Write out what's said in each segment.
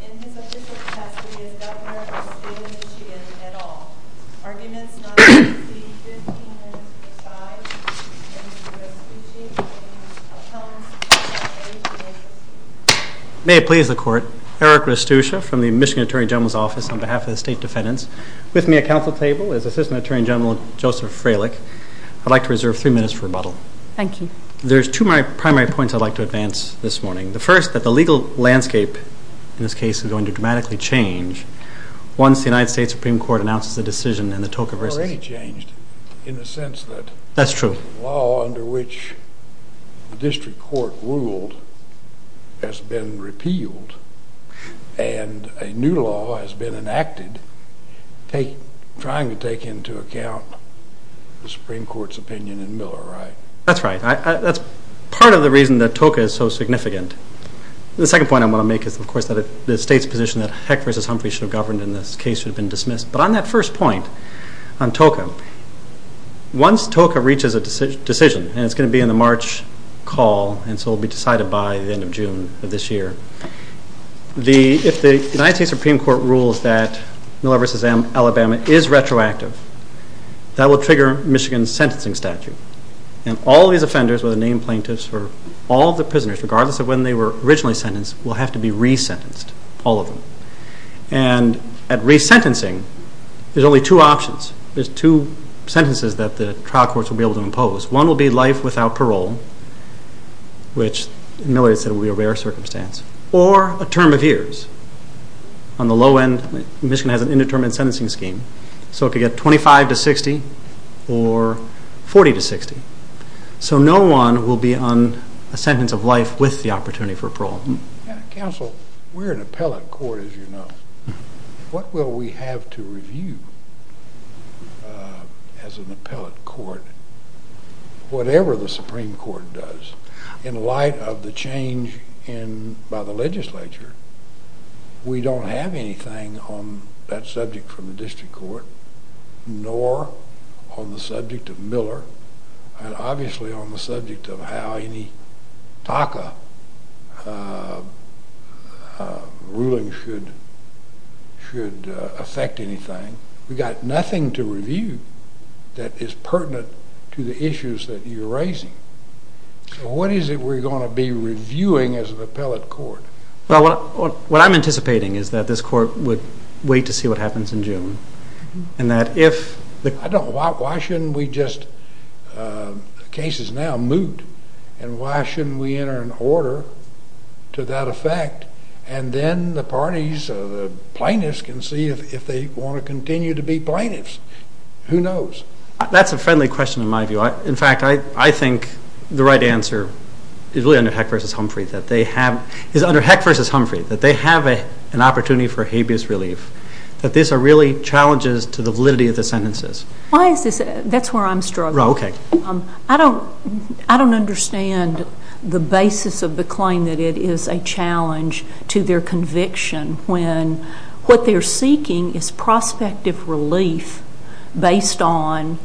in his official capacity as Governor of the State of Michigan at all, arguments not to proceed 15 minutes per side. May it please the Court, Eric Restucia from the Michigan Attorney General's Office on behalf of the State Defendants. With me at council table is Assistant Attorney General Joseph Freilich. I'd like to reserve three minutes for rebuttal. Thank you. There's two primary points I'd like to advance this morning. The first, that the legal landscape in this case is going to dramatically change once the United States Supreme Court announces a decision in the Toka v. It's already changed in the sense that the law under which the district court ruled has been repealed, and a new law has been enacted trying to take into account the Supreme Court's opinion in Miller, right? That's right. That's part of the reason that Toka is so significant. The second point I want to make is, of course, that the State's position that Heck v. Humphrey should have governed in this case should have been dismissed. But on that first point, on Toka, once Toka reaches a decision, and it's going to be in the March call and so it will be decided by the end of June of this year, if the United States Supreme Court rules that Miller v. Alabama is retroactive, that will trigger Michigan's sentencing statute. And all these offenders, whether named plaintiffs or all the prisoners, regardless of when they were originally sentenced, will have to be resentenced, all of them. And at resentencing, there's only two options. There's two sentences that the trial courts will be able to impose. One will be life without parole, which Miller said will be a rare circumstance, or a term of years. On the low end, Michigan has an indeterminate sentencing scheme, so it could get 25 to 60 or 40 to 60. So no one will be on a sentence of life with the opportunity for parole. Counsel, we're an appellate court, as you know. What will we have to review as an appellate court, whatever the Supreme Court does, in light of the change by the legislature? We don't have anything on that subject from the district court, nor on the subject of Miller, and obviously on the subject of how any TACA ruling should affect anything. We've got nothing to review that is pertinent to the issues that you're raising. So what is it we're going to be reviewing as an appellate court? Well, what I'm anticipating is that this court would wait to see what happens in June, I don't know, why shouldn't we just, the case is now moved, and why shouldn't we enter an order to that effect, and then the parties or the plaintiffs can see if they want to continue to be plaintiffs. Who knows? That's a friendly question in my view. In fact, I think the right answer is really under Heck v. Humphrey, that they have an opportunity for habeas relief. That these are really challenges to the validity of the sentences. Why is this, that's where I'm struggling. Okay. I don't understand the basis of the claim that it is a challenge to their conviction when what they're seeking is prospective relief based on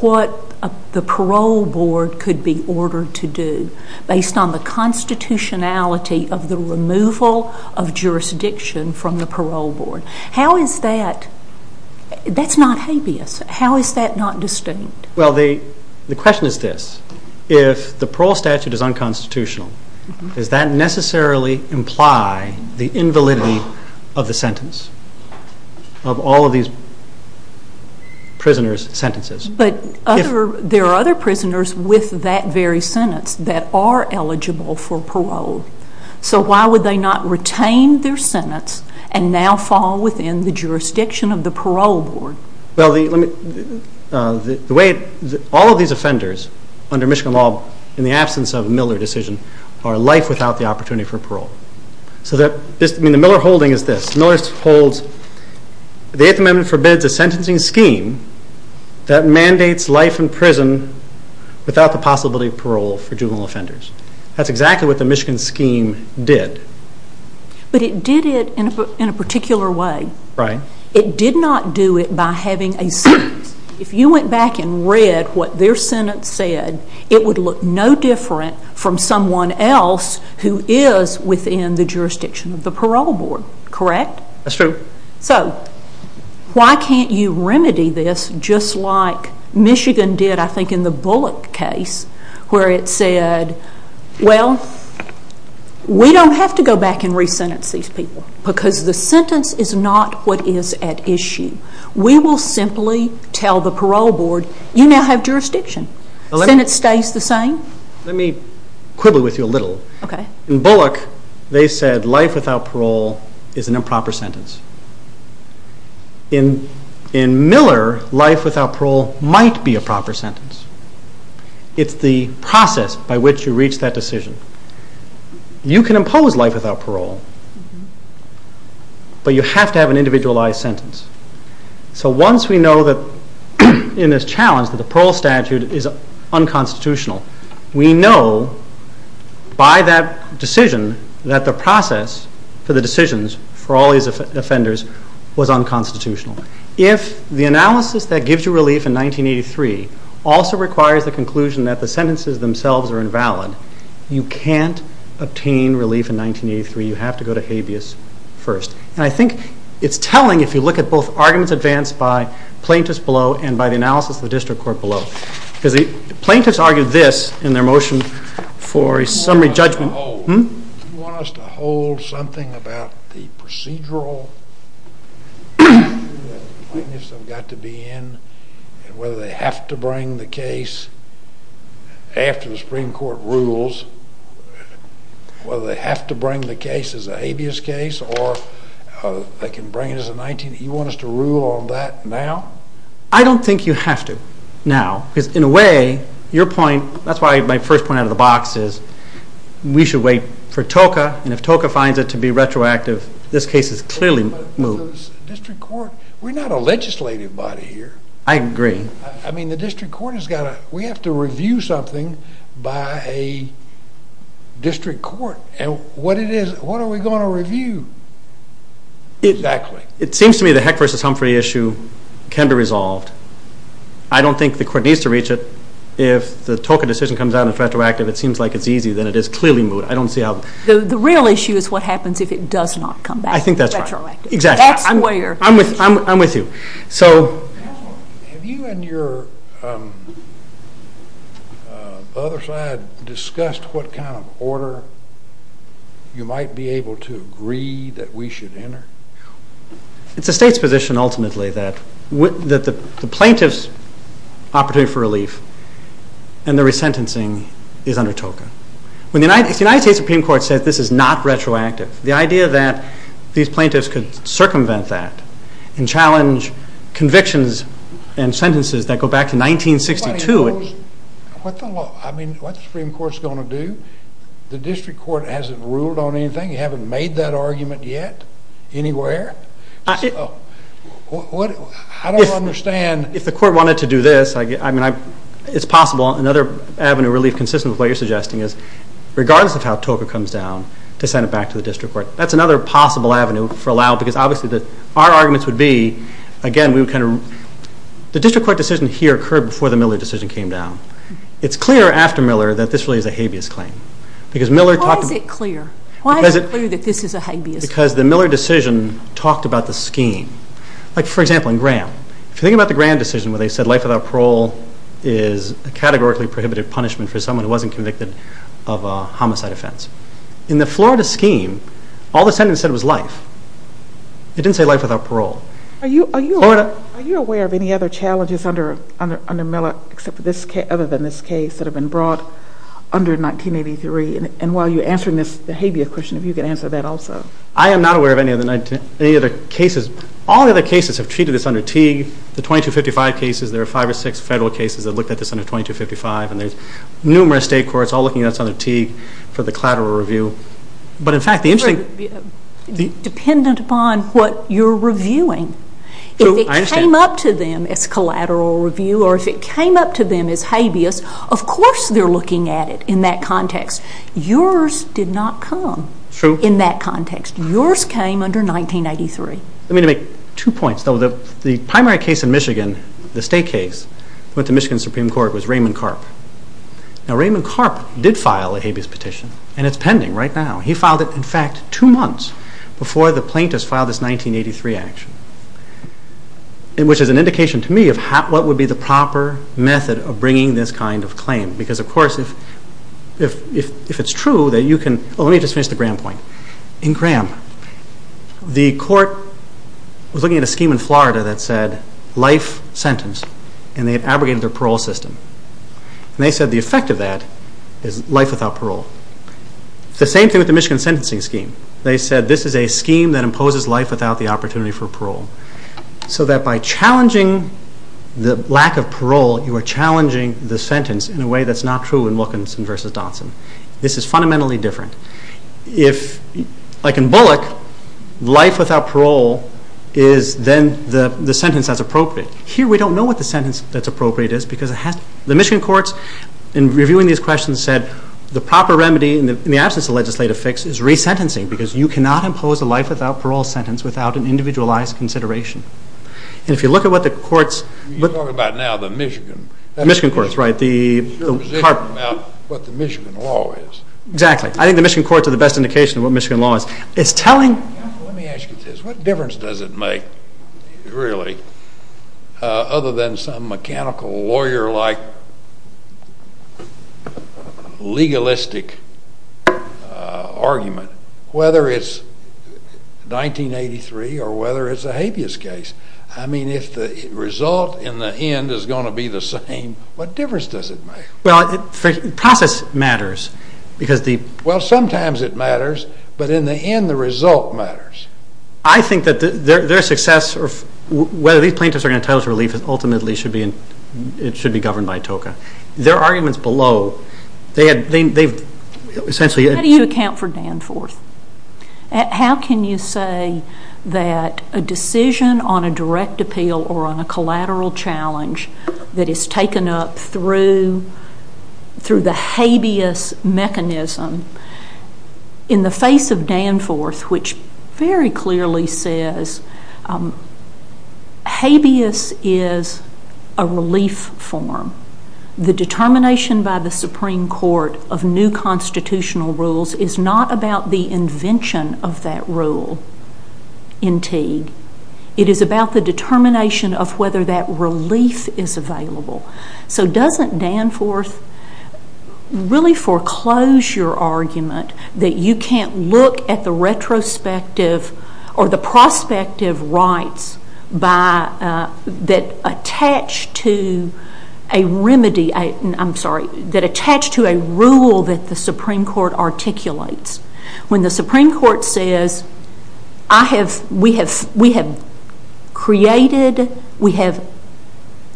what the parole board could be ordered to do, based on the constitutionality of the removal of jurisdiction from the parole board. How is that, that's not habeas, how is that not distinct? Well, the question is this, if the parole statute is unconstitutional, does that necessarily imply the invalidity of the sentence, of all of these prisoners' sentences? But there are other prisoners with that very sentence that are eligible for parole. So why would they not retain their sentence and now fall within the jurisdiction of the parole board? Well, all of these offenders under Michigan law, in the absence of a Miller decision, are life without the opportunity for parole. So the Miller holding is this, Miller holds the 8th Amendment forbids a sentencing scheme that mandates life in prison without the possibility of parole for juvenile offenders. That's exactly what the Michigan scheme did. But it did it in a particular way. Right. It did not do it by having a sentence. If you went back and read what their sentence said, it would look no different from someone else who is within the jurisdiction of the parole board, correct? That's true. So why can't you remedy this just like Michigan did, I think, in the Bullock case, where it said, well, we don't have to go back and re-sentence these people because the sentence is not what is at issue. We will simply tell the parole board, you now have jurisdiction. The sentence stays the same. Let me quibble with you a little. Okay. In Bullock, they said life without parole is an improper sentence. In Miller, life without parole might be a proper sentence. It's the process by which you reach that decision. You can impose life without parole, but you have to have an individualized sentence. So once we know that in this challenge that the parole statute is unconstitutional, we know by that decision that the process for the decisions for all these offenders was unconstitutional. If the analysis that gives you relief in 1983 also requires the conclusion that the sentences themselves are invalid, you can't obtain relief in 1983. You have to go to habeas first. And I think it's telling if you look at both arguments advanced by plaintiffs below and by the analysis of the district court below. Because the plaintiffs argued this in their motion for a summary judgment. Do you want us to hold something about the procedural plaintiffs have got to be in and whether they have to bring the case after the Supreme Court rules, whether they have to bring the case as a habeas case or they can bring it as a 1980? Do you want us to rule on that now? I don't think you have to now. Because in a way, your point, that's why my first point out of the box is we should wait for TOCA, and if TOCA finds it to be retroactive, this case is clearly moved. District court, we're not a legislative body here. I agree. I mean the district court has got to, we have to review something by a district court. And what are we going to review exactly? It seems to me the Heck v. Humphrey issue can be resolved. I don't think the court needs to reach it. If the TOCA decision comes out and it's retroactive, it seems like it's easy, then it is clearly moved. I don't see how. The real issue is what happens if it does not come back. I think that's right. It's retroactive. Exactly. I'm with you. Have you and your other side discussed what kind of order you might be able to agree that we should enter? It's the state's position ultimately that the plaintiff's opportunity for relief and their resentencing is under TOCA. If the United States Supreme Court says this is not retroactive, the idea that these plaintiffs could circumvent that and challenge convictions and sentences that go back to 1962. What the Supreme Court is going to do? The district court hasn't ruled on anything? You haven't made that argument yet anywhere? I don't understand. If the court wanted to do this, it's possible. Another avenue of relief consistent with what you're suggesting is regardless of how TOCA comes down, to send it back to the district court. That's another possible avenue for allow because obviously our arguments would be, again, the district court decision here occurred before the Miller decision came down. It's clear after Miller that this really is a habeas claim. Why is it clear? Why is it clear that this is a habeas claim? Because the Miller decision talked about the scheme. For example, in Graham. If you think about the Graham decision where they said life without parole is a categorically prohibited punishment for someone who wasn't convicted of a homicide offense. In the Florida scheme, all the sentence said was life. It didn't say life without parole. Are you aware of any other challenges under Miller other than this case that have been brought under 1983? And while you're answering this habeas question, if you could answer that also. I am not aware of any other cases. All the other cases have treated this under Teague. The 2255 cases, there are five or six federal cases that looked at this under 2255, and there's numerous state courts all looking at this under Teague for the collateral review. But, in fact, the interesting... Dependent upon what you're reviewing. If it came up to them as collateral review or if it came up to them as habeas, of course they're looking at it in that context. Yours did not come in that context. Yours came under 1983. Let me make two points. The primary case in Michigan, the state case, went to Michigan Supreme Court was Raymond Karp. Now, Raymond Karp did file a habeas petition, and it's pending right now. He filed it, in fact, two months before the plaintiffs filed this 1983 action, which is an indication to me of what would be the proper method of bringing this kind of claim. Because, of course, if it's true that you can... Oh, let me just finish the Graham point. In Graham, the court was looking at a scheme in Florida that said life sentence, and they had abrogated their parole system. And they said the effect of that is life without parole. It's the same thing with the Michigan sentencing scheme. They said this is a scheme that imposes life without the opportunity for parole. So that by challenging the lack of parole, you are challenging the sentence in a way that's not true in Wilkinson v. Dodson. This is fundamentally different. Like in Bullock, life without parole is then the sentence that's appropriate. Here we don't know what the sentence that's appropriate is because it has to... The Michigan courts, in reviewing these questions, said the proper remedy, in the absence of legislative fix, is resentencing, because you cannot impose a life without parole sentence without an individualized consideration. And if you look at what the courts... You're talking about now the Michigan... The Michigan courts, right. You're talking about what the Michigan law is. Exactly. I think the Michigan courts are the best indication of what Michigan law is. It's telling... Let me ask you this. What difference does it make, really, other than some mechanical lawyer-like legalistic argument, whether it's 1983 or whether it's a habeas case? I mean, if the result in the end is going to be the same, what difference does it make? Well, the process matters because the... Well, sometimes it matters, but in the end the result matters. I think that their success, whether these plaintiffs are entitled to relief ultimately should be governed by TOCA. Their arguments below, they've essentially... How do you account for Danforth? How can you say that a decision on a direct appeal or on a collateral challenge that is taken up through the habeas mechanism in the face of Danforth, which very clearly says habeas is a relief form. The determination by the Supreme Court of new constitutional rules is not about the invention of that rule in Teague. It is about the determination of whether that relief is available. So doesn't Danforth really foreclose your argument that you can't look at the retrospective or the prospective rights that attach to a rule that the Supreme Court articulates? When the Supreme Court says we have created, we have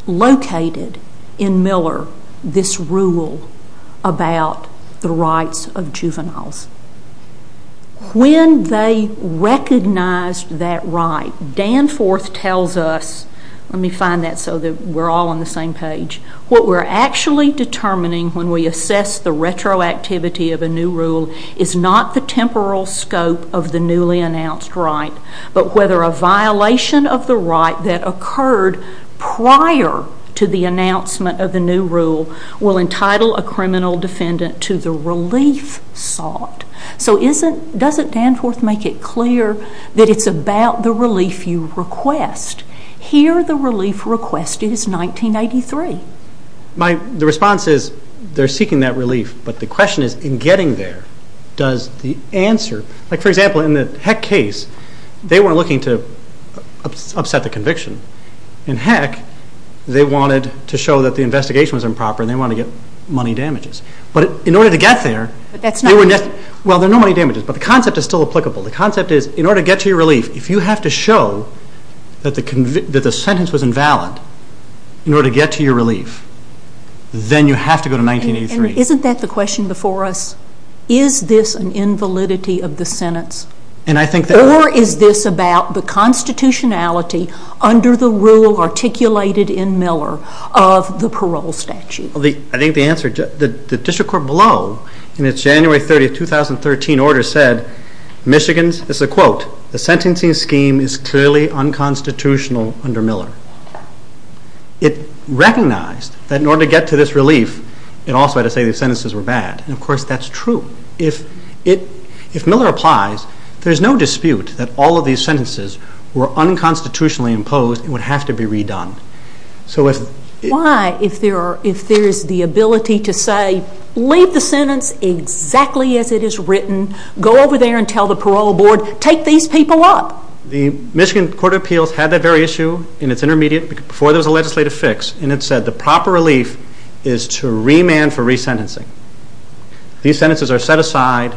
located in Miller this rule about the rights of juveniles. When they recognize that right, Danforth tells us... Let me find that so that we're all on the same page. What we're actually determining when we assess the retroactivity of a new rule is not the temporal scope of the newly announced right, but whether a violation of the right that occurred prior to the announcement of the new rule will entitle a criminal defendant to the relief sought. So doesn't Danforth make it clear that it's about the relief you request? Here the relief request is 1983. The response is they're seeking that relief, but the question is, in getting there, does the answer... For example, in the Heck case, they weren't looking to upset the conviction. In Heck, they wanted to show that the investigation was improper and they wanted to get money damages. But in order to get there... But that's not... Well, there are no money damages, but the concept is still applicable. The concept is, in order to get to your relief, if you have to show that the sentence was invalid in order to get to your relief, then you have to go to 1983. Isn't that the question before us? Is this an invalidity of the sentence? And I think that... Or is this about the constitutionality under the rule articulated in Miller of the parole statute? I think the answer... The district court below, in its January 30, 2013, order said, Michigan's, this is a quote, the sentencing scheme is clearly unconstitutional under Miller. It recognized that in order to get to this relief, it also had to say the sentences were bad. And, of course, that's true. If Miller applies, there is no dispute that all of these sentences were unconstitutionally imposed and would have to be redone. So if... Why, if there is the ability to say, leave the sentence exactly as it is written, go over there and tell the parole board, take these people up? The Michigan Court of Appeals had that very issue in its intermediate before there was a legislative fix, and it said the proper relief is to remand for resentencing. These sentences are set aside.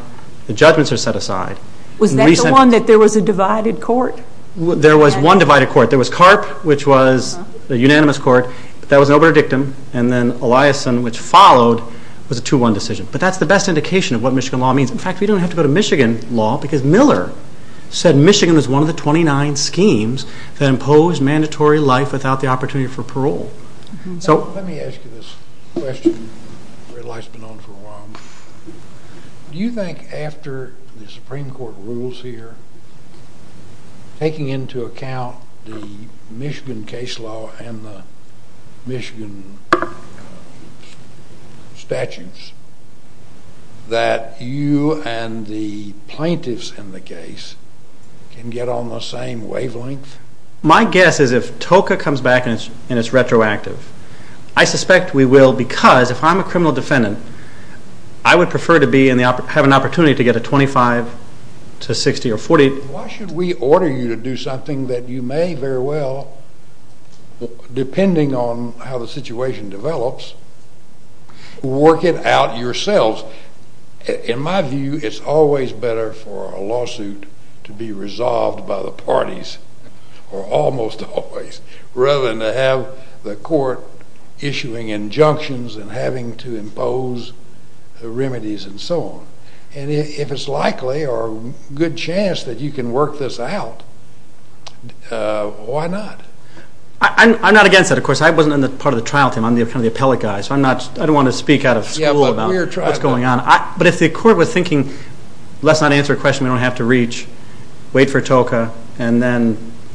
The judgments are set aside. Was that the one that there was a divided court? There was one divided court. There was CARP, which was a unanimous court. That was an opener dictum. And then Eliasson, which followed, was a 2-1 decision. But that's the best indication of what Michigan law means. In fact, we don't have to go to Michigan law because Miller said Michigan was one of the 29 schemes that impose mandatory life without the opportunity for parole. Let me ask you this question, where life's been on for a while. Do you think after the Supreme Court rules here, taking into account the Michigan case law and the Michigan statutes, that you and the plaintiffs in the case can get on the same wavelength? My guess is if TOCA comes back and it's retroactive, I suspect we will because if I'm a criminal defendant, I would prefer to have an opportunity to get a 25 to 60 or 40. Why should we order you to do something that you may very well, depending on how the situation develops, work it out yourselves? In my view, it's always better for a lawsuit to be resolved by the parties, or almost always, rather than to have the court issuing injunctions and having to impose remedies and so on. And if it's likely or a good chance that you can work this out, why not? I'm not against that, of course. I wasn't on the part of the trial team. I'm kind of the appellate guy, so I don't want to speak out of school about what's going on. But if the court was thinking, let's not answer a question we don't have to reach, wait for TOCA,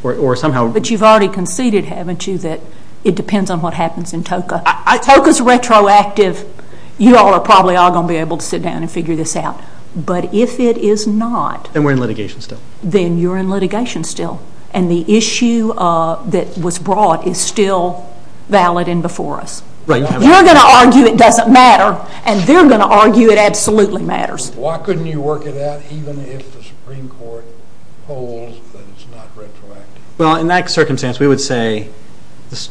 or somehow... But you've already conceded, haven't you, that it depends on what happens in TOCA. TOCA's retroactive. You all are probably all going to be able to sit down and figure this out. But if it is not... Then we're in litigation still. Then you're in litigation still. And the issue that was brought is still valid and before us. You're going to argue it doesn't matter, and they're going to argue it absolutely matters. Why couldn't you work it out even if the Supreme Court holds that it's not retroactive? Well, in that circumstance, we would say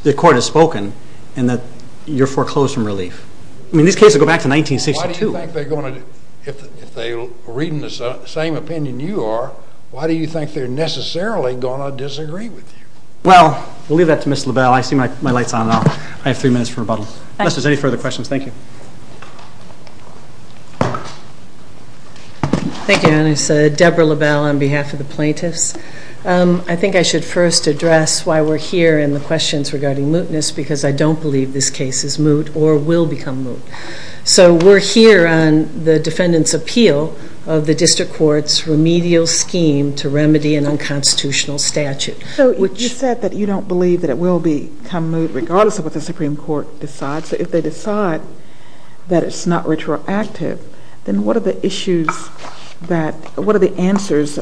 the court has spoken and that you're foreclosed from relief. I mean, these cases go back to 1962. Why do you think they're going to... If they're reading the same opinion you are, why do you think they're necessarily going to disagree with you? Well, we'll leave that to Ms. LaBelle. I see my light's on now. I have three minutes for rebuttal. Unless there's any further questions, thank you. Thank you, Dennis. Deborah LaBelle on behalf of the plaintiffs. I think I should first address why we're here and the questions regarding mootness because I don't believe this case is moot or will become moot. So we're here on the defendant's appeal of the district court's remedial scheme to remedy an unconstitutional statute. So you said that you don't believe that it will become moot regardless of what the Supreme Court decides. So if they decide that it's not retroactive, then what are the issues that... What are the answers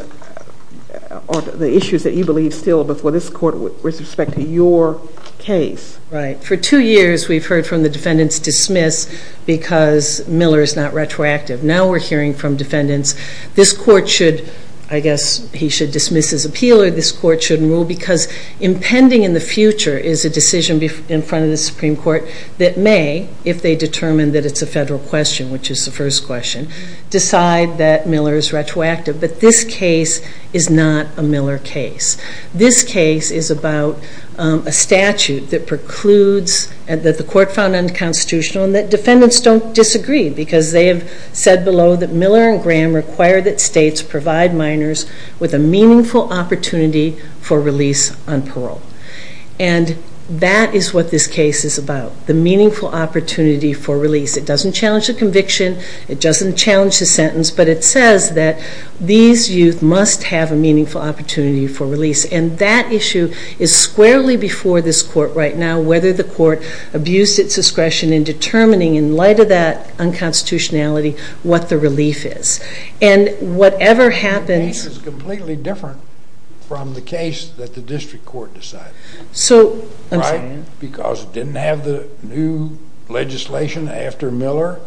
or the issues that you believe still before this court with respect to your case? Right. For two years, we've heard from the defendants, dismiss because Miller is not retroactive. Now we're hearing from defendants, this court should, I guess, he should dismiss his appeal or this court shouldn't rule because impending in the future is a decision in front of the Supreme Court that may, if they determine that it's a federal question, which is the first question, decide that Miller is retroactive. But this case is not a Miller case. This case is about a statute that precludes that the court found unconstitutional and that defendants don't disagree because they have said below that Miller and Graham require that states provide minors with a meaningful opportunity for release on parole. And that is what this case is about, the meaningful opportunity for release. It doesn't challenge the conviction. It doesn't challenge the sentence. But it says that these youth must have a meaningful opportunity for release. And that issue is squarely before this court right now, whether the court abused its discretion in determining in light of that unconstitutionality what the relief is. And whatever happens... This is completely different from the case that the district court decided. So... Right? Because it didn't have the new legislation after Miller.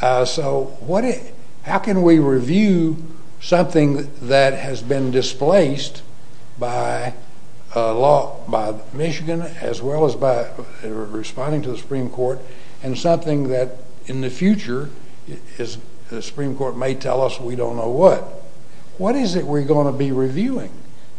So how can we review something that has been displaced by Michigan as well as by responding to the Supreme Court and something that in the future the Supreme Court may tell us we don't know what? What is it we're going to be reviewing?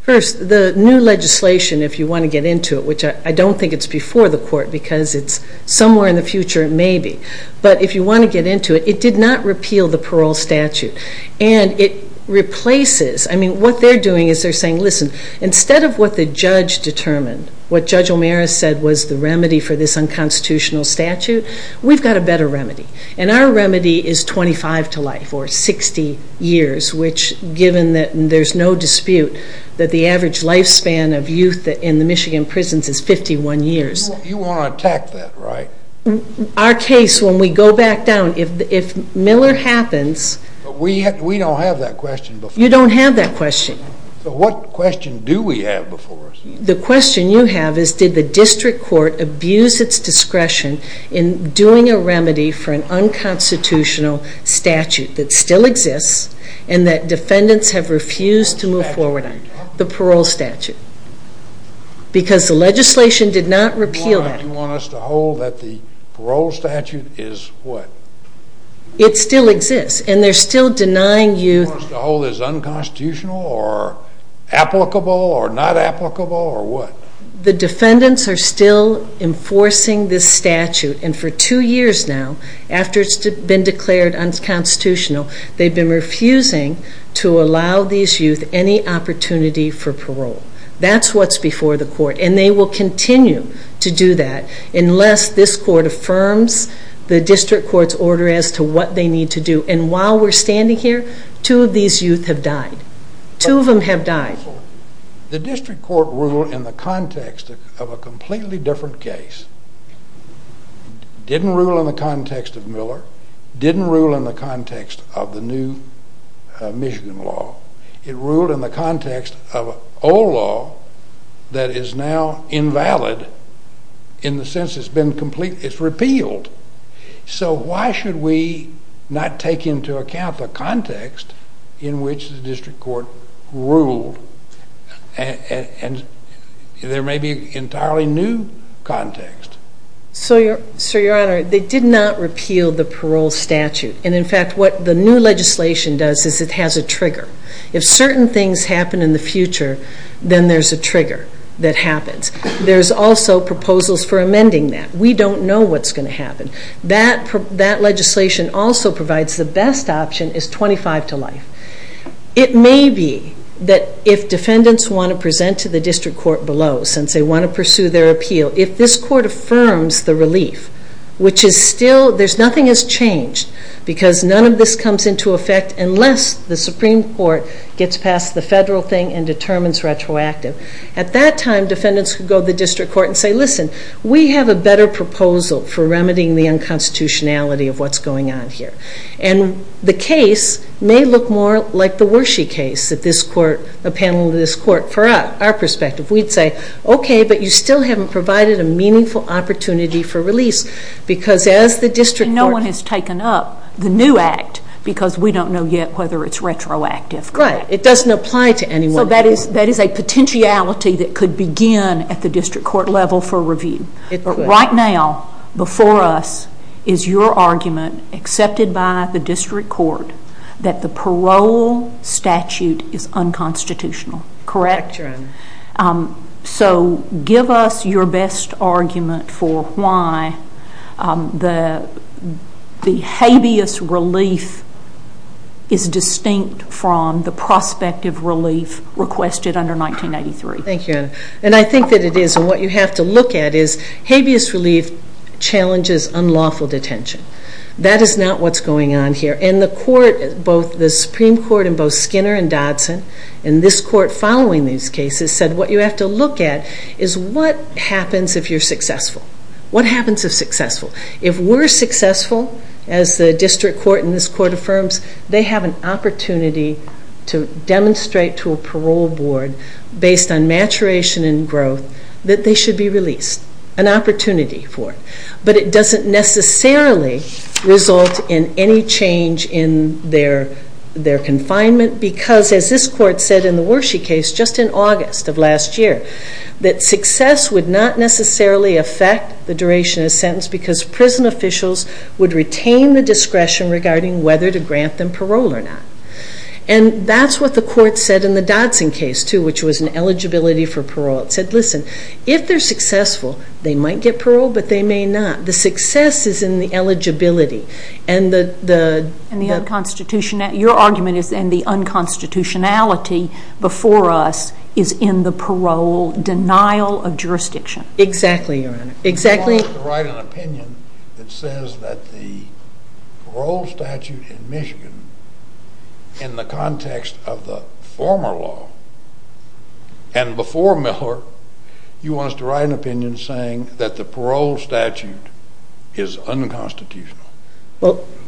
First, the new legislation, if you want to get into it, which I don't think it's before the court because it's somewhere in the future it may be. But if you want to get into it, it did not repeal the parole statute. And it replaces... I mean, what they're doing is they're saying, listen, instead of what the judge determined, what Judge O'Meara said was the remedy for this unconstitutional statute, we've got a better remedy. And our remedy is 25 to life, or 60 years, which given that there's no dispute that the average lifespan of youth in the Michigan prisons is 51 years. You want to attack that, right? Our case, when we go back down, if Miller happens... But we don't have that question before us. You don't have that question. But what question do we have before us? The question you have is, did the district court abuse its discretion in doing a remedy for an unconstitutional statute that still exists and that defendants have refused to move forward on? The parole statute. Because the legislation did not repeal that. You want us to hold that the parole statute is what? It still exists, and they're still denying youth... The defendants are still enforcing this statute, and for two years now, after it's been declared unconstitutional, they've been refusing to allow these youth any opportunity for parole. That's what's before the court, and they will continue to do that unless this court affirms the district court's order as to what they need to do. And while we're standing here, two of these youth have died. Two of them have died. The district court ruled in the context of a completely different case. It didn't rule in the context of Miller. It didn't rule in the context of the new Michigan law. It ruled in the context of old law that is now invalid in the sense it's been completely repealed. So why should we not take into account the context in which the district court ruled? And there may be an entirely new context. Sir, Your Honor, they did not repeal the parole statute. And, in fact, what the new legislation does is it has a trigger. If certain things happen in the future, then there's a trigger that happens. There's also proposals for amending that. We don't know what's going to happen. That legislation also provides the best option is 25 to life. It may be that if defendants want to present to the district court below, since they want to pursue their appeal, if this court affirms the relief, which is still, nothing has changed because none of this comes into effect unless the Supreme Court gets past the federal thing and determines retroactive. At that time, defendants could go to the district court and say, listen, we have a better proposal for remedying the unconstitutionality of what's going on here. And the case may look more like the Wershey case that this court, a panel of this court, for our perspective. We'd say, okay, but you still haven't provided a meaningful opportunity for release because as the district court- No one has taken up the new act because we don't know yet whether it's retroactive. Right. It doesn't apply to anyone. So that is a potentiality that could begin at the district court level for review. Right now, before us, is your argument, accepted by the district court, that the parole statute is unconstitutional. Correct? Correct, Your Honor. So give us your best argument for why the habeas relief is distinct from the prospective relief requested under 1983. Thank you, Your Honor. And I think that it is. And what you have to look at is habeas relief challenges unlawful detention. That is not what's going on here. And the court, both the Supreme Court and both Skinner and Dodson, and this court following these cases, said what you have to look at is what happens if you're successful. What happens if successful? If we're successful, as the district court and this court affirms, they have an opportunity to demonstrate to a parole board, based on maturation and growth, that they should be released. An opportunity for it. But it doesn't necessarily result in any change in their confinement because, as this court said in the Wershe case just in August of last year, that success would not necessarily affect the duration of a sentence because prison officials would retain the discretion regarding whether to grant them parole or not. And that's what the court said in the Dodson case, too, which was an eligibility for parole. It said, listen, if they're successful, they might get parole, but they may not. The success is in the eligibility. And the unconstitutionality before us is in the parole denial of jurisdiction. Exactly, Your Honor. You want us to write an opinion that says that the parole statute in Michigan, in the context of the former law and before Miller, you want us to write an opinion saying that the parole statute is unconstitutional.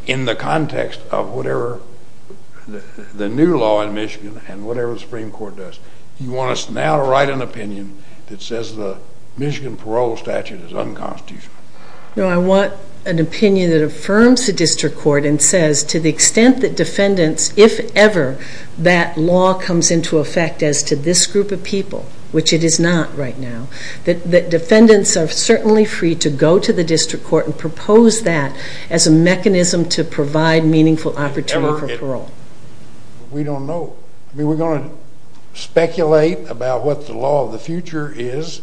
In the context of whatever the new law in Michigan and whatever the Supreme Court does, you want us now to write an opinion that says the Michigan parole statute is unconstitutional. No, I want an opinion that affirms the district court and says to the extent that defendants, if ever, that law comes into effect as to this group of people, which it is not right now, that defendants are certainly free to go to the district court and propose that as a mechanism to provide meaningful opportunity for parole. We don't know. I mean, we're going to speculate about what the law of the future is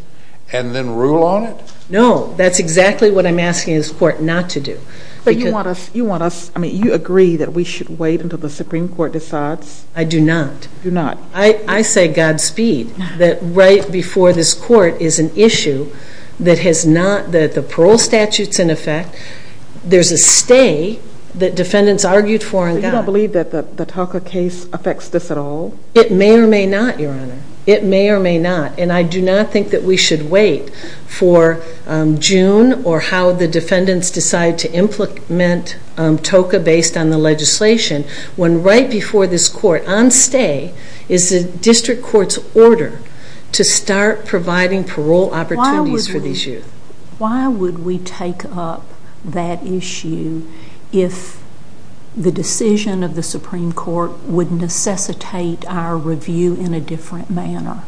and then rule on it? No, that's exactly what I'm asking this court not to do. But you want us, I mean, you agree that we should wait until the Supreme Court decides? I do not. Do not. I say, Godspeed, that right before this court is an issue that has not, that the parole statute's in effect, there's a stay that defendants argued for and got. You don't believe that the TOCA case affects this at all? It may or may not, Your Honor. It may or may not. And I do not think that we should wait for June or how the defendants decide to implement TOCA based on the legislation when right before this court, on stay, is the district court's order to start providing parole opportunities for these youth. Why would we take up that issue if the decision of the Supreme Court would necessitate our review in a different manner?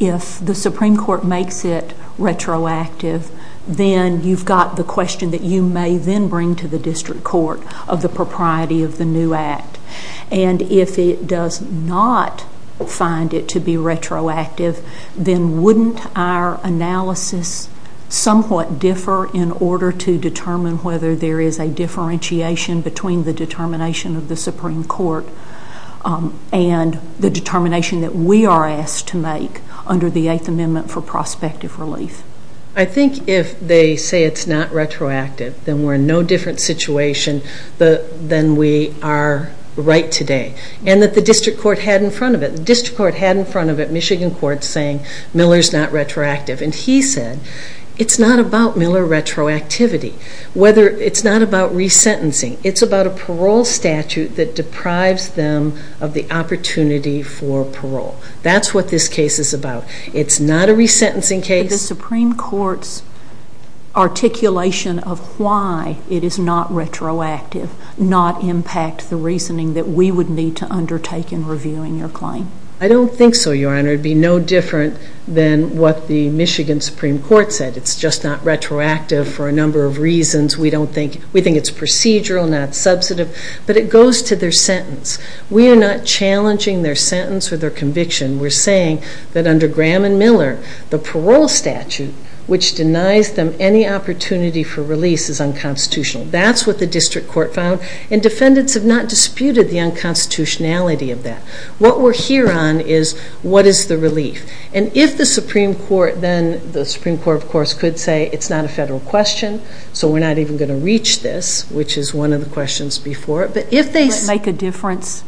If the Supreme Court makes it retroactive, then you've got the question that you may then bring to the district court of the propriety of the new act. And if it does not find it to be retroactive, then wouldn't our analysis somewhat differ in order to determine whether there is a differentiation between the determination of the Supreme Court and the determination that we are asked to make under the Eighth Amendment for prospective relief? I think if they say it's not retroactive, then we're in no different situation than we are right today. And that the district court had in front of it. The district court had in front of it Michigan court saying Miller's not retroactive. And he said it's not about Miller retroactivity. It's not about resentencing. It's about a parole statute that deprives them of the opportunity for parole. That's what this case is about. It's not a resentencing case. The Supreme Court's articulation of why it is not retroactive does not impact the reasoning that we would need to undertake in reviewing your claim. I don't think so, Your Honor. It would be no different than what the Michigan Supreme Court said. It's just not retroactive for a number of reasons. We think it's procedural, not substantive. But it goes to their sentence. We are not challenging their sentence or their conviction. We're saying that under Graham and Miller, the parole statute which denies them any opportunity for release is unconstitutional. That's what the district court found. And defendants have not disputed the unconstitutionality of that. What we're here on is what is the relief. And if the Supreme Court then, the Supreme Court, of course, could say it's not a federal question, so we're not even going to reach this, which is one of the questions before it. But if they say Does it make a difference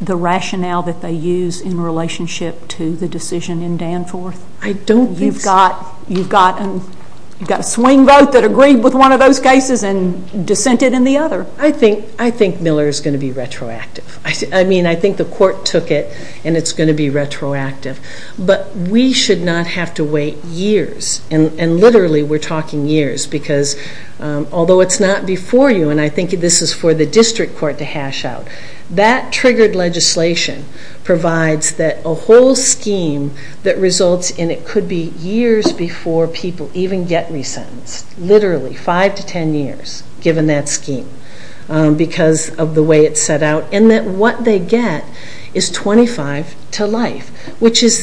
the rationale that they use in relationship to the decision in Danforth? I don't think so. You've got a swing vote that agreed with one of those cases and dissented in the other. I think Miller is going to be retroactive. I mean, I think the court took it, and it's going to be retroactive. But we should not have to wait years. And literally, we're talking years. Because although it's not before you, and I think this is for the district court to hash out, that triggered legislation provides that a whole scheme that results in it could be years before people even get resentenced. Literally, five to ten years given that scheme because of the way it's set out. And that what they get is 25 to life, which is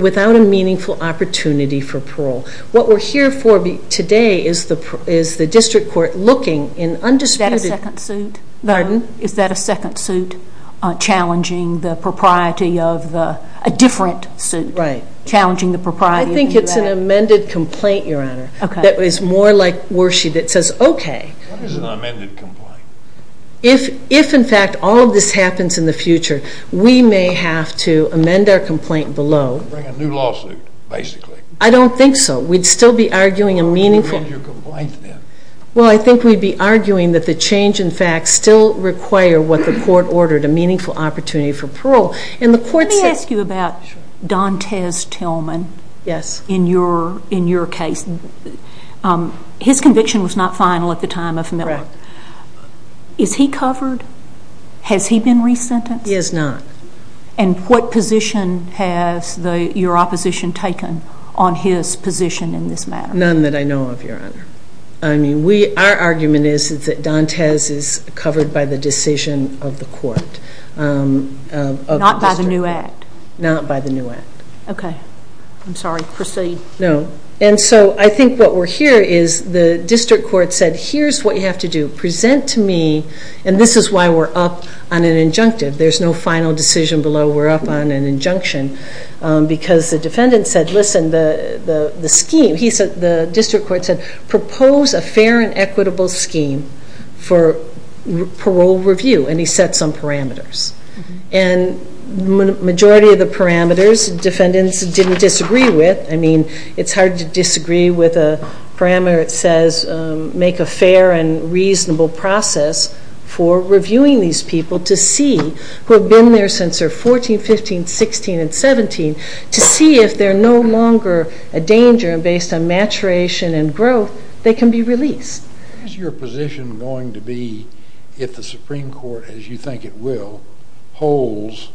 without a meaningful opportunity for parole. What we're here for today is the district court looking in undisputed Is that a second suit? Pardon? Is that a second suit challenging the propriety of a different suit? Right. Challenging the propriety of the U.S.? I think it's an amended complaint, Your Honor. Okay. That is more like Worshey that says, okay. What is an amended complaint? If, in fact, all of this happens in the future, we may have to amend our complaint below. Bring a new lawsuit, basically. I don't think so. We'd still be arguing a meaningful Amend your complaint then. Well, I think we'd be arguing that the change, in fact, still require what the court ordered, a meaningful opportunity for parole. Let me ask you about Dontez Tillman. Yes. In your case. His conviction was not final at the time of Miller. Correct. Is he covered? Has he been resentenced? He has not. And what position has your opposition taken on his position in this matter? None that I know of, Your Honor. I mean, our argument is that Dontez is covered by the decision of the court. Not by the new act? Not by the new act. Okay. I'm sorry. Proceed. No. And so I think what we're hearing is the district court said, here's what you have to do. Present to me, and this is why we're up on an injunctive. There's no final decision below. We're up on an injunction because the defendant said, listen, the scheme, the district court said, propose a fair and equitable scheme for parole review. And he set some parameters. And the majority of the parameters defendants didn't disagree with. I mean, it's hard to disagree with a parameter that says make a fair and reasonable process for reviewing these people to see who have been there since they're 14, 15, 16, and 17 to see if they're no longer a danger and based on maturation and growth they can be released. What is your position going to be if the Supreme Court, as you think it will, holds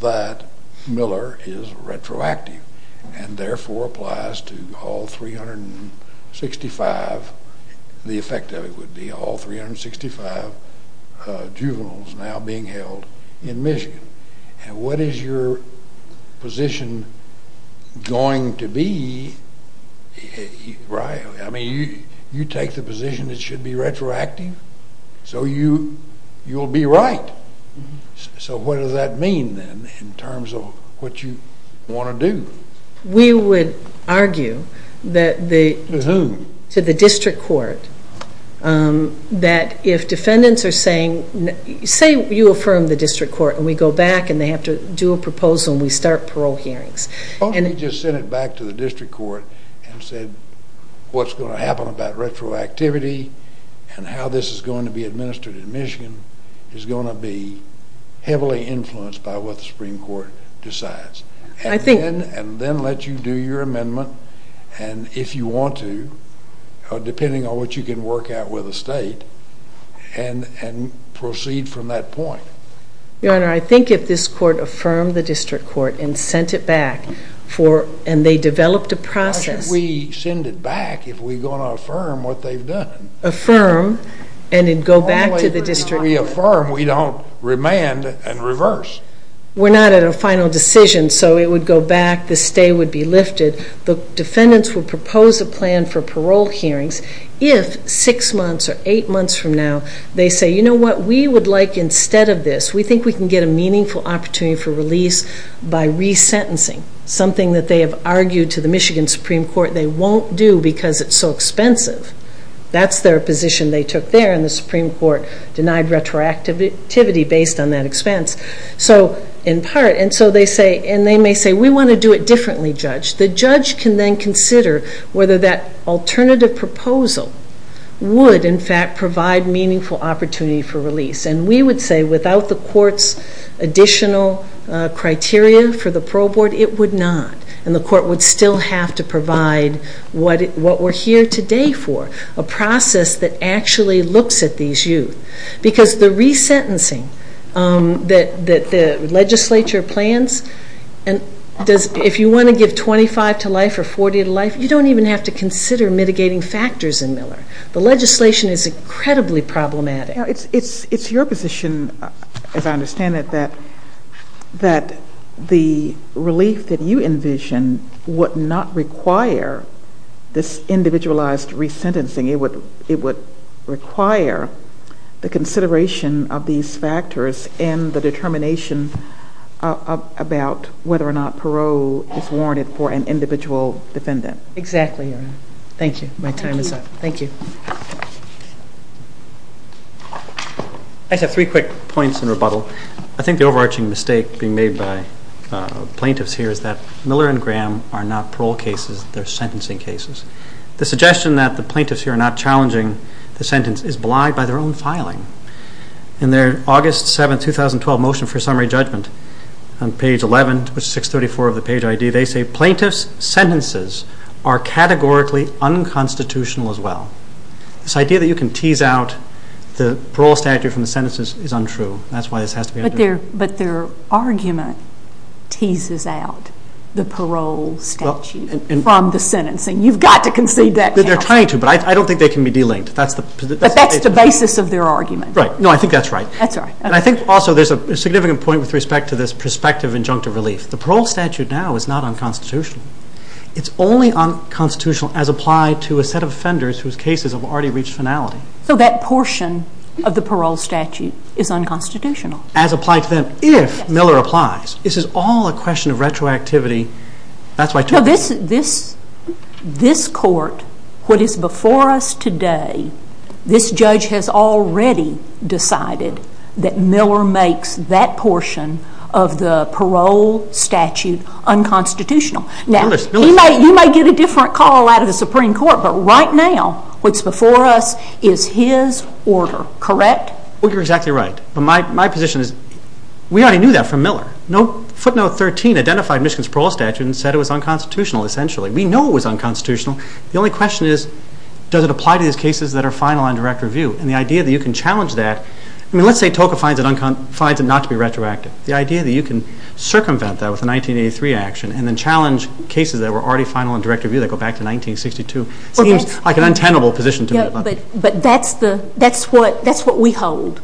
that Miller is retroactive and therefore applies to all 365, the effect of it would be all 365 juveniles now being held in Michigan? And what is your position going to be? I mean, you take the position it should be retroactive, so you'll be right. So what does that mean then in terms of what you want to do? We would argue that the district court, that if defendants are saying, say you affirm the district court and we go back and they have to do a proposal and we start parole hearings. Why don't we just send it back to the district court and say what's going to happen about retroactivity and how this is going to be administered in Michigan is going to be heavily influenced by what the Supreme Court decides. And then let you do your amendment. And if you want to, depending on what you can work out with the state, and proceed from that point. Your Honor, I think if this court affirmed the district court and sent it back and they developed a process. Why should we send it back if we're going to affirm what they've done? Affirm and then go back to the district court. Only if we affirm we don't remand and reverse. We're not at a final decision, so it would go back, the stay would be lifted. The defendants would propose a plan for parole hearings if six months or eight months from now they say, you know what, we would like instead of this, we think we can get a meaningful opportunity for release by resentencing. Something that they have argued to the Michigan Supreme Court they won't do because it's so expensive. That's their position they took there and the Supreme Court denied retroactivity based on that expense. So in part, and they may say we want to do it differently, Judge. The Judge can then consider whether that alternative proposal would in fact provide meaningful opportunity for release. And we would say without the court's additional criteria for the parole board, it would not. And the court would still have to provide what we're here today for, a process that actually looks at these youth. Because the resentencing that the legislature plans, if you want to give 25 to life or 40 to life, you don't even have to consider mitigating factors in Miller. The legislation is incredibly problematic. It's your position, as I understand it, that the relief that you envision would not require this individualized resentencing. It would require the consideration of these factors and the determination about whether or not parole is warranted for an individual defendant. Exactly, Your Honor. Thank you. My time is up. Thank you. I just have three quick points in rebuttal. I think the overarching mistake being made by plaintiffs here is that Miller and Graham are not parole cases, they're sentencing cases. The suggestion that the plaintiffs here are not challenging the sentence is belied by their own filing. In their August 7, 2012 Motion for Summary Judgment, on page 11 to page 634 of the page ID, they say plaintiffs' sentences are categorically unconstitutional as well. This idea that you can tease out the parole statute from the sentences is untrue. That's why this has to be undertaken. But their argument teases out the parole statute from the sentencing. You've got to concede that. They're trying to, but I don't think they can be delinked. But that's the basis of their argument. Right. No, I think that's right. That's right. I think also there's a significant point with respect to this prospective injunctive relief. The parole statute now is not unconstitutional. It's only unconstitutional as applied to a set of offenders whose cases have already reached finality. So that portion of the parole statute is unconstitutional. As applied to them if Miller applies. This is all a question of retroactivity. This court, what is before us today, this judge has already decided that Miller makes that portion of the parole statute unconstitutional. You may get a different call out of the Supreme Court, but right now what's before us is his order. Correct? You're exactly right. My position is we already knew that from Miller. Footnote 13 identified Michigan's parole statute and said it was unconstitutional essentially. We know it was unconstitutional. The only question is does it apply to these cases that are final on direct review? And the idea that you can challenge that, I mean let's say Toca finds it not to be retroactive. The idea that you can circumvent that with a 1983 action and then challenge cases that were already final on direct review that go back to 1962 seems like an untenable position to me.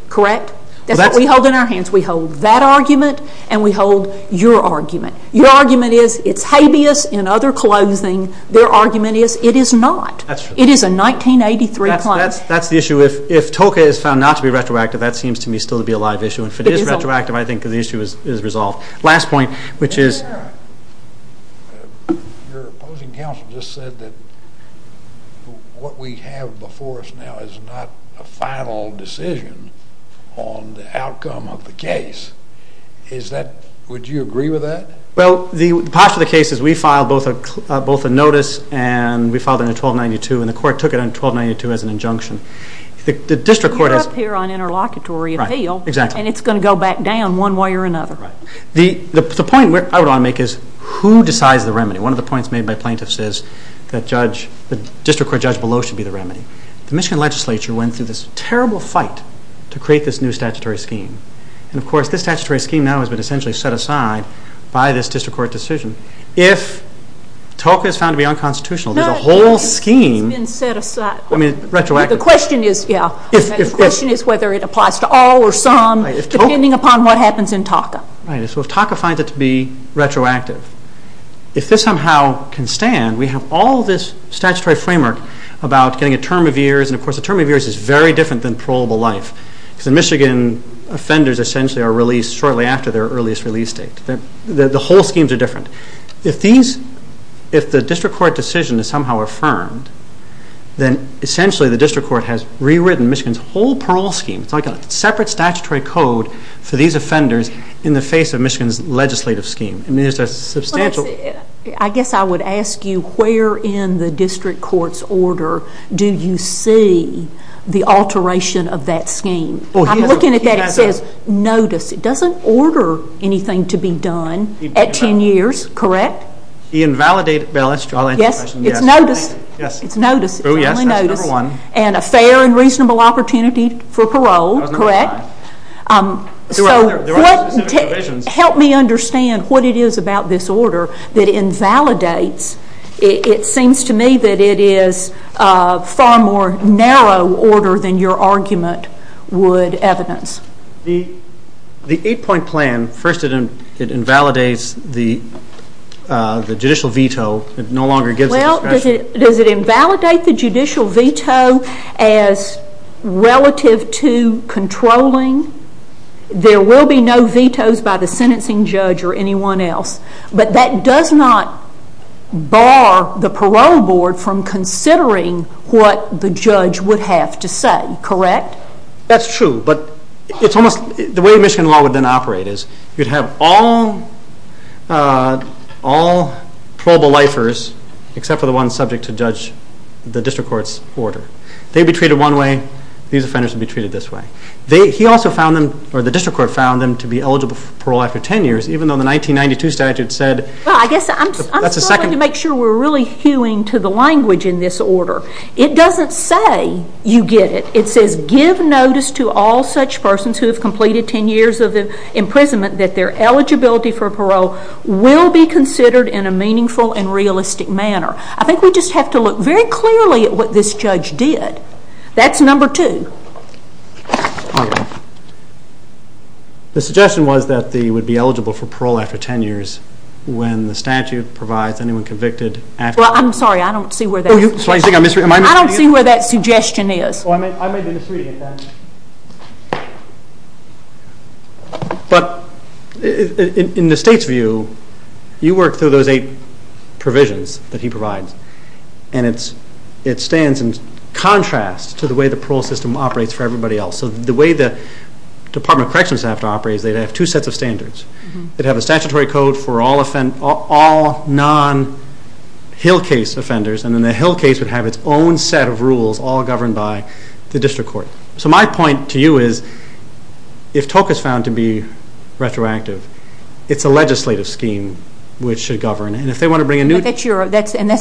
Correct? That's what we hold in our hands. We hold that argument and we hold your argument. Your argument is it's habeas in other clothing. Their argument is it is not. It is a 1983 claim. That's the issue. If Toca is found not to be retroactive, that seems to me still to be a live issue. If it is retroactive, I think the issue is resolved. Last point, which is... Your opposing counsel just said that what we have before us now is not a final decision on the outcome of the case. Would you agree with that? Well, the posture of the case is we filed both a notice and we filed it in 1292 and the court took it in 1292 as an injunction. You're up here on interlocutory appeal and it's going to go back down one way or another. The point I want to make is who decides the remedy? One of the points made by plaintiffs is the district court judge below should be the remedy. The Michigan legislature went through this terrible fight to create this new statutory scheme. Of course, this statutory scheme now has been essentially set aside by this district court decision. If Toca is found to be unconstitutional, the whole scheme is retroactive. The question is whether it applies to all or some, depending upon what happens in Toca. If Toca finds it to be retroactive, if this somehow can stand, we have all this statutory framework about getting a term of years. Of course, a term of years is very different than parolable life. The Michigan offenders essentially are released shortly after their earliest release date. The whole schemes are different. If the district court decision is somehow affirmed, then essentially the district court has rewritten Michigan's whole parole scheme. It's like a separate statutory code for these offenders in the face of Michigan's legislative scheme. I guess I would ask you where in the district court's order do you see the alteration of that scheme? I'm looking at that and it says notice. It doesn't order anything to be done at 10 years, correct? The invalidated bail issue. Yes, it's notice. It's only notice. And a fair and reasonable opportunity for parole, correct? There are specific provisions. Help me understand what it is about this order that invalidates. It seems to me that it is a far more narrow order than your argument would evidence. The eight-point plan, first it invalidates the judicial veto. It no longer gives the discretion. Does it invalidate the judicial veto as relative to controlling? There will be no vetoes by the sentencing judge or anyone else, but that does not bar the parole board from considering what the judge would have to say, correct? That's true, but the way Michigan law would then operate is you'd have all parolable lifers except for the one subject to judge the district court's order. They'd be treated one way. These offenders would be treated this way. He also found them, or the district court found them to be eligible for parole after 10 years, even though the 1992 statute said that's a second. I guess I'm struggling to make sure we're really hewing to the language in this order. It doesn't say you get it. It says give notice to all such persons who have completed 10 years of imprisonment that their eligibility for parole will be considered in a meaningful and realistic manner. I think we just have to look very clearly at what this judge did. That's number two. The suggestion was that they would be eligible for parole after 10 years when the statute provides anyone convicted after 10 years. Well, I'm sorry. I don't see where that suggestion is. I may be misreading it then. But in the state's view, you work through those eight provisions that he provides, and it stands in contrast to the way the parole system operates for everybody else. The way the Department of Corrections would have to operate is they'd have two sets of standards. They'd have a statutory code for all non-Hill case offenders, and then the Hill case would have its own set of rules all governed by the district court. So my point to you is if TOCA is found to be retroactive, it's a legislative scheme which should govern. And that's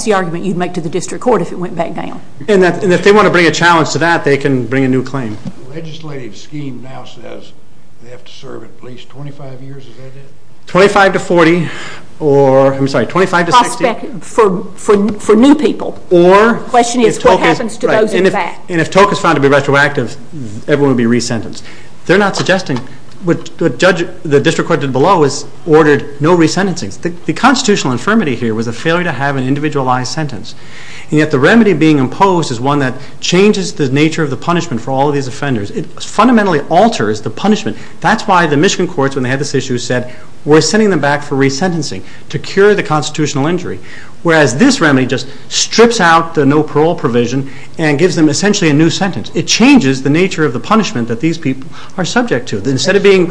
the argument you'd make to the district court if it went back down. And if they want to bring a challenge to that, they can bring a new claim. The legislative scheme now says they have to serve at least 25 years. Twenty-five to 40. I'm sorry, 25 to 60. For new people. The question is what happens to those in the back? And if TOCA is found to be retroactive, everyone would be resentenced. They're not suggesting what the district court did below is ordered no resentencing. The constitutional infirmity here was a failure to have an individualized sentence. And yet the remedy being imposed is one that changes the nature of the punishment for all of these offenders. It fundamentally alters the punishment. That's why the Michigan courts, when they had this issue, said we're sending them back for resentencing to cure the constitutional injury. Whereas this remedy just strips out the no parole provision and gives them essentially a new sentence. It changes the nature of the punishment that these people are subject to. Instead of being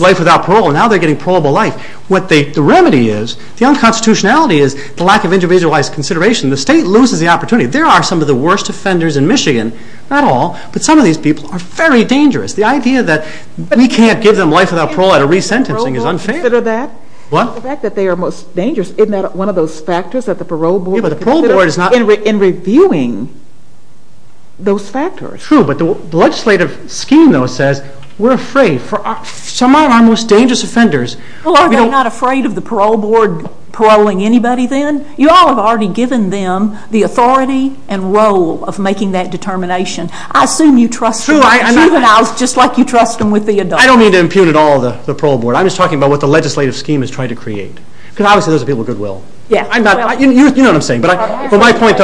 life without parole, now they're getting parolable life. The remedy is, the unconstitutionality is the lack of individualized consideration. The state loses the opportunity. There are some of the worst offenders in Michigan, not all, but some of these people are very dangerous. The idea that we can't give them life without parole out of resentencing is unfair. The fact that they are most dangerous, isn't that one of those factors that the parole board considers in reviewing those factors? True, but the legislative scheme, though, says we're afraid for some of our most dangerous offenders. Well, are they not afraid of the parole board paroling anybody then? You all have already given them the authority and role of making that determination. I assume you trust juveniles just like you trust them with the adults. I don't mean to impugn at all the parole board. I'm just talking about what the legislative scheme is trying to create. Because, obviously, those are people with good will. You know what I'm saying. My point,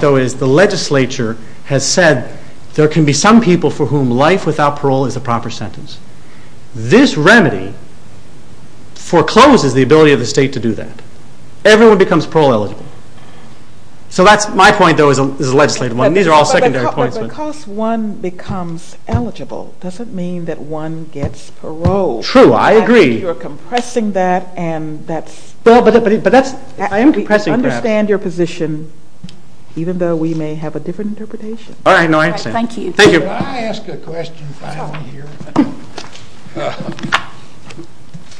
though, is the legislature has said there can be some people for whom life without parole is a proper sentence. This remedy forecloses the ability of the state to do that. Everyone becomes parole eligible. My point, though, is a legislative one. These are all secondary points. Well, because one becomes eligible doesn't mean that one gets parole. True, I agree. You're compressing that and that's... Well, but that's... I am compressing, perhaps. I understand your position, even though we may have a different interpretation. All right, no, I understand. Thank you. Thank you. Can I ask a question finally here?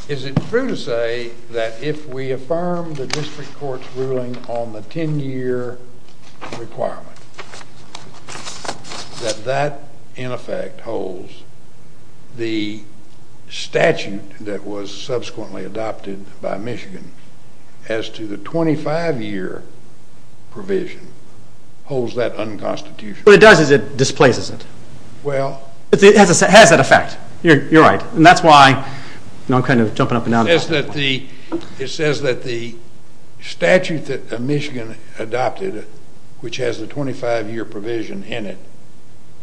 Is it true to say that if we affirm the district court's ruling on the 10-year requirement, that that, in effect, holds the statute that was subsequently adopted by Michigan as to the 25-year provision, holds that unconstitutional? What it does is it displaces it. Well... It has that effect. You're right. And that's why I'm kind of jumping up and down. It says that the statute that Michigan adopted, which has the 25-year provision in it,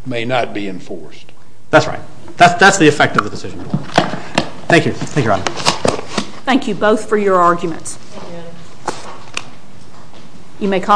may not be enforced. That's right. That's the effect of the decision. Thank you. Thank you, Adam. Thank you both for your arguments. Thank you, Adam.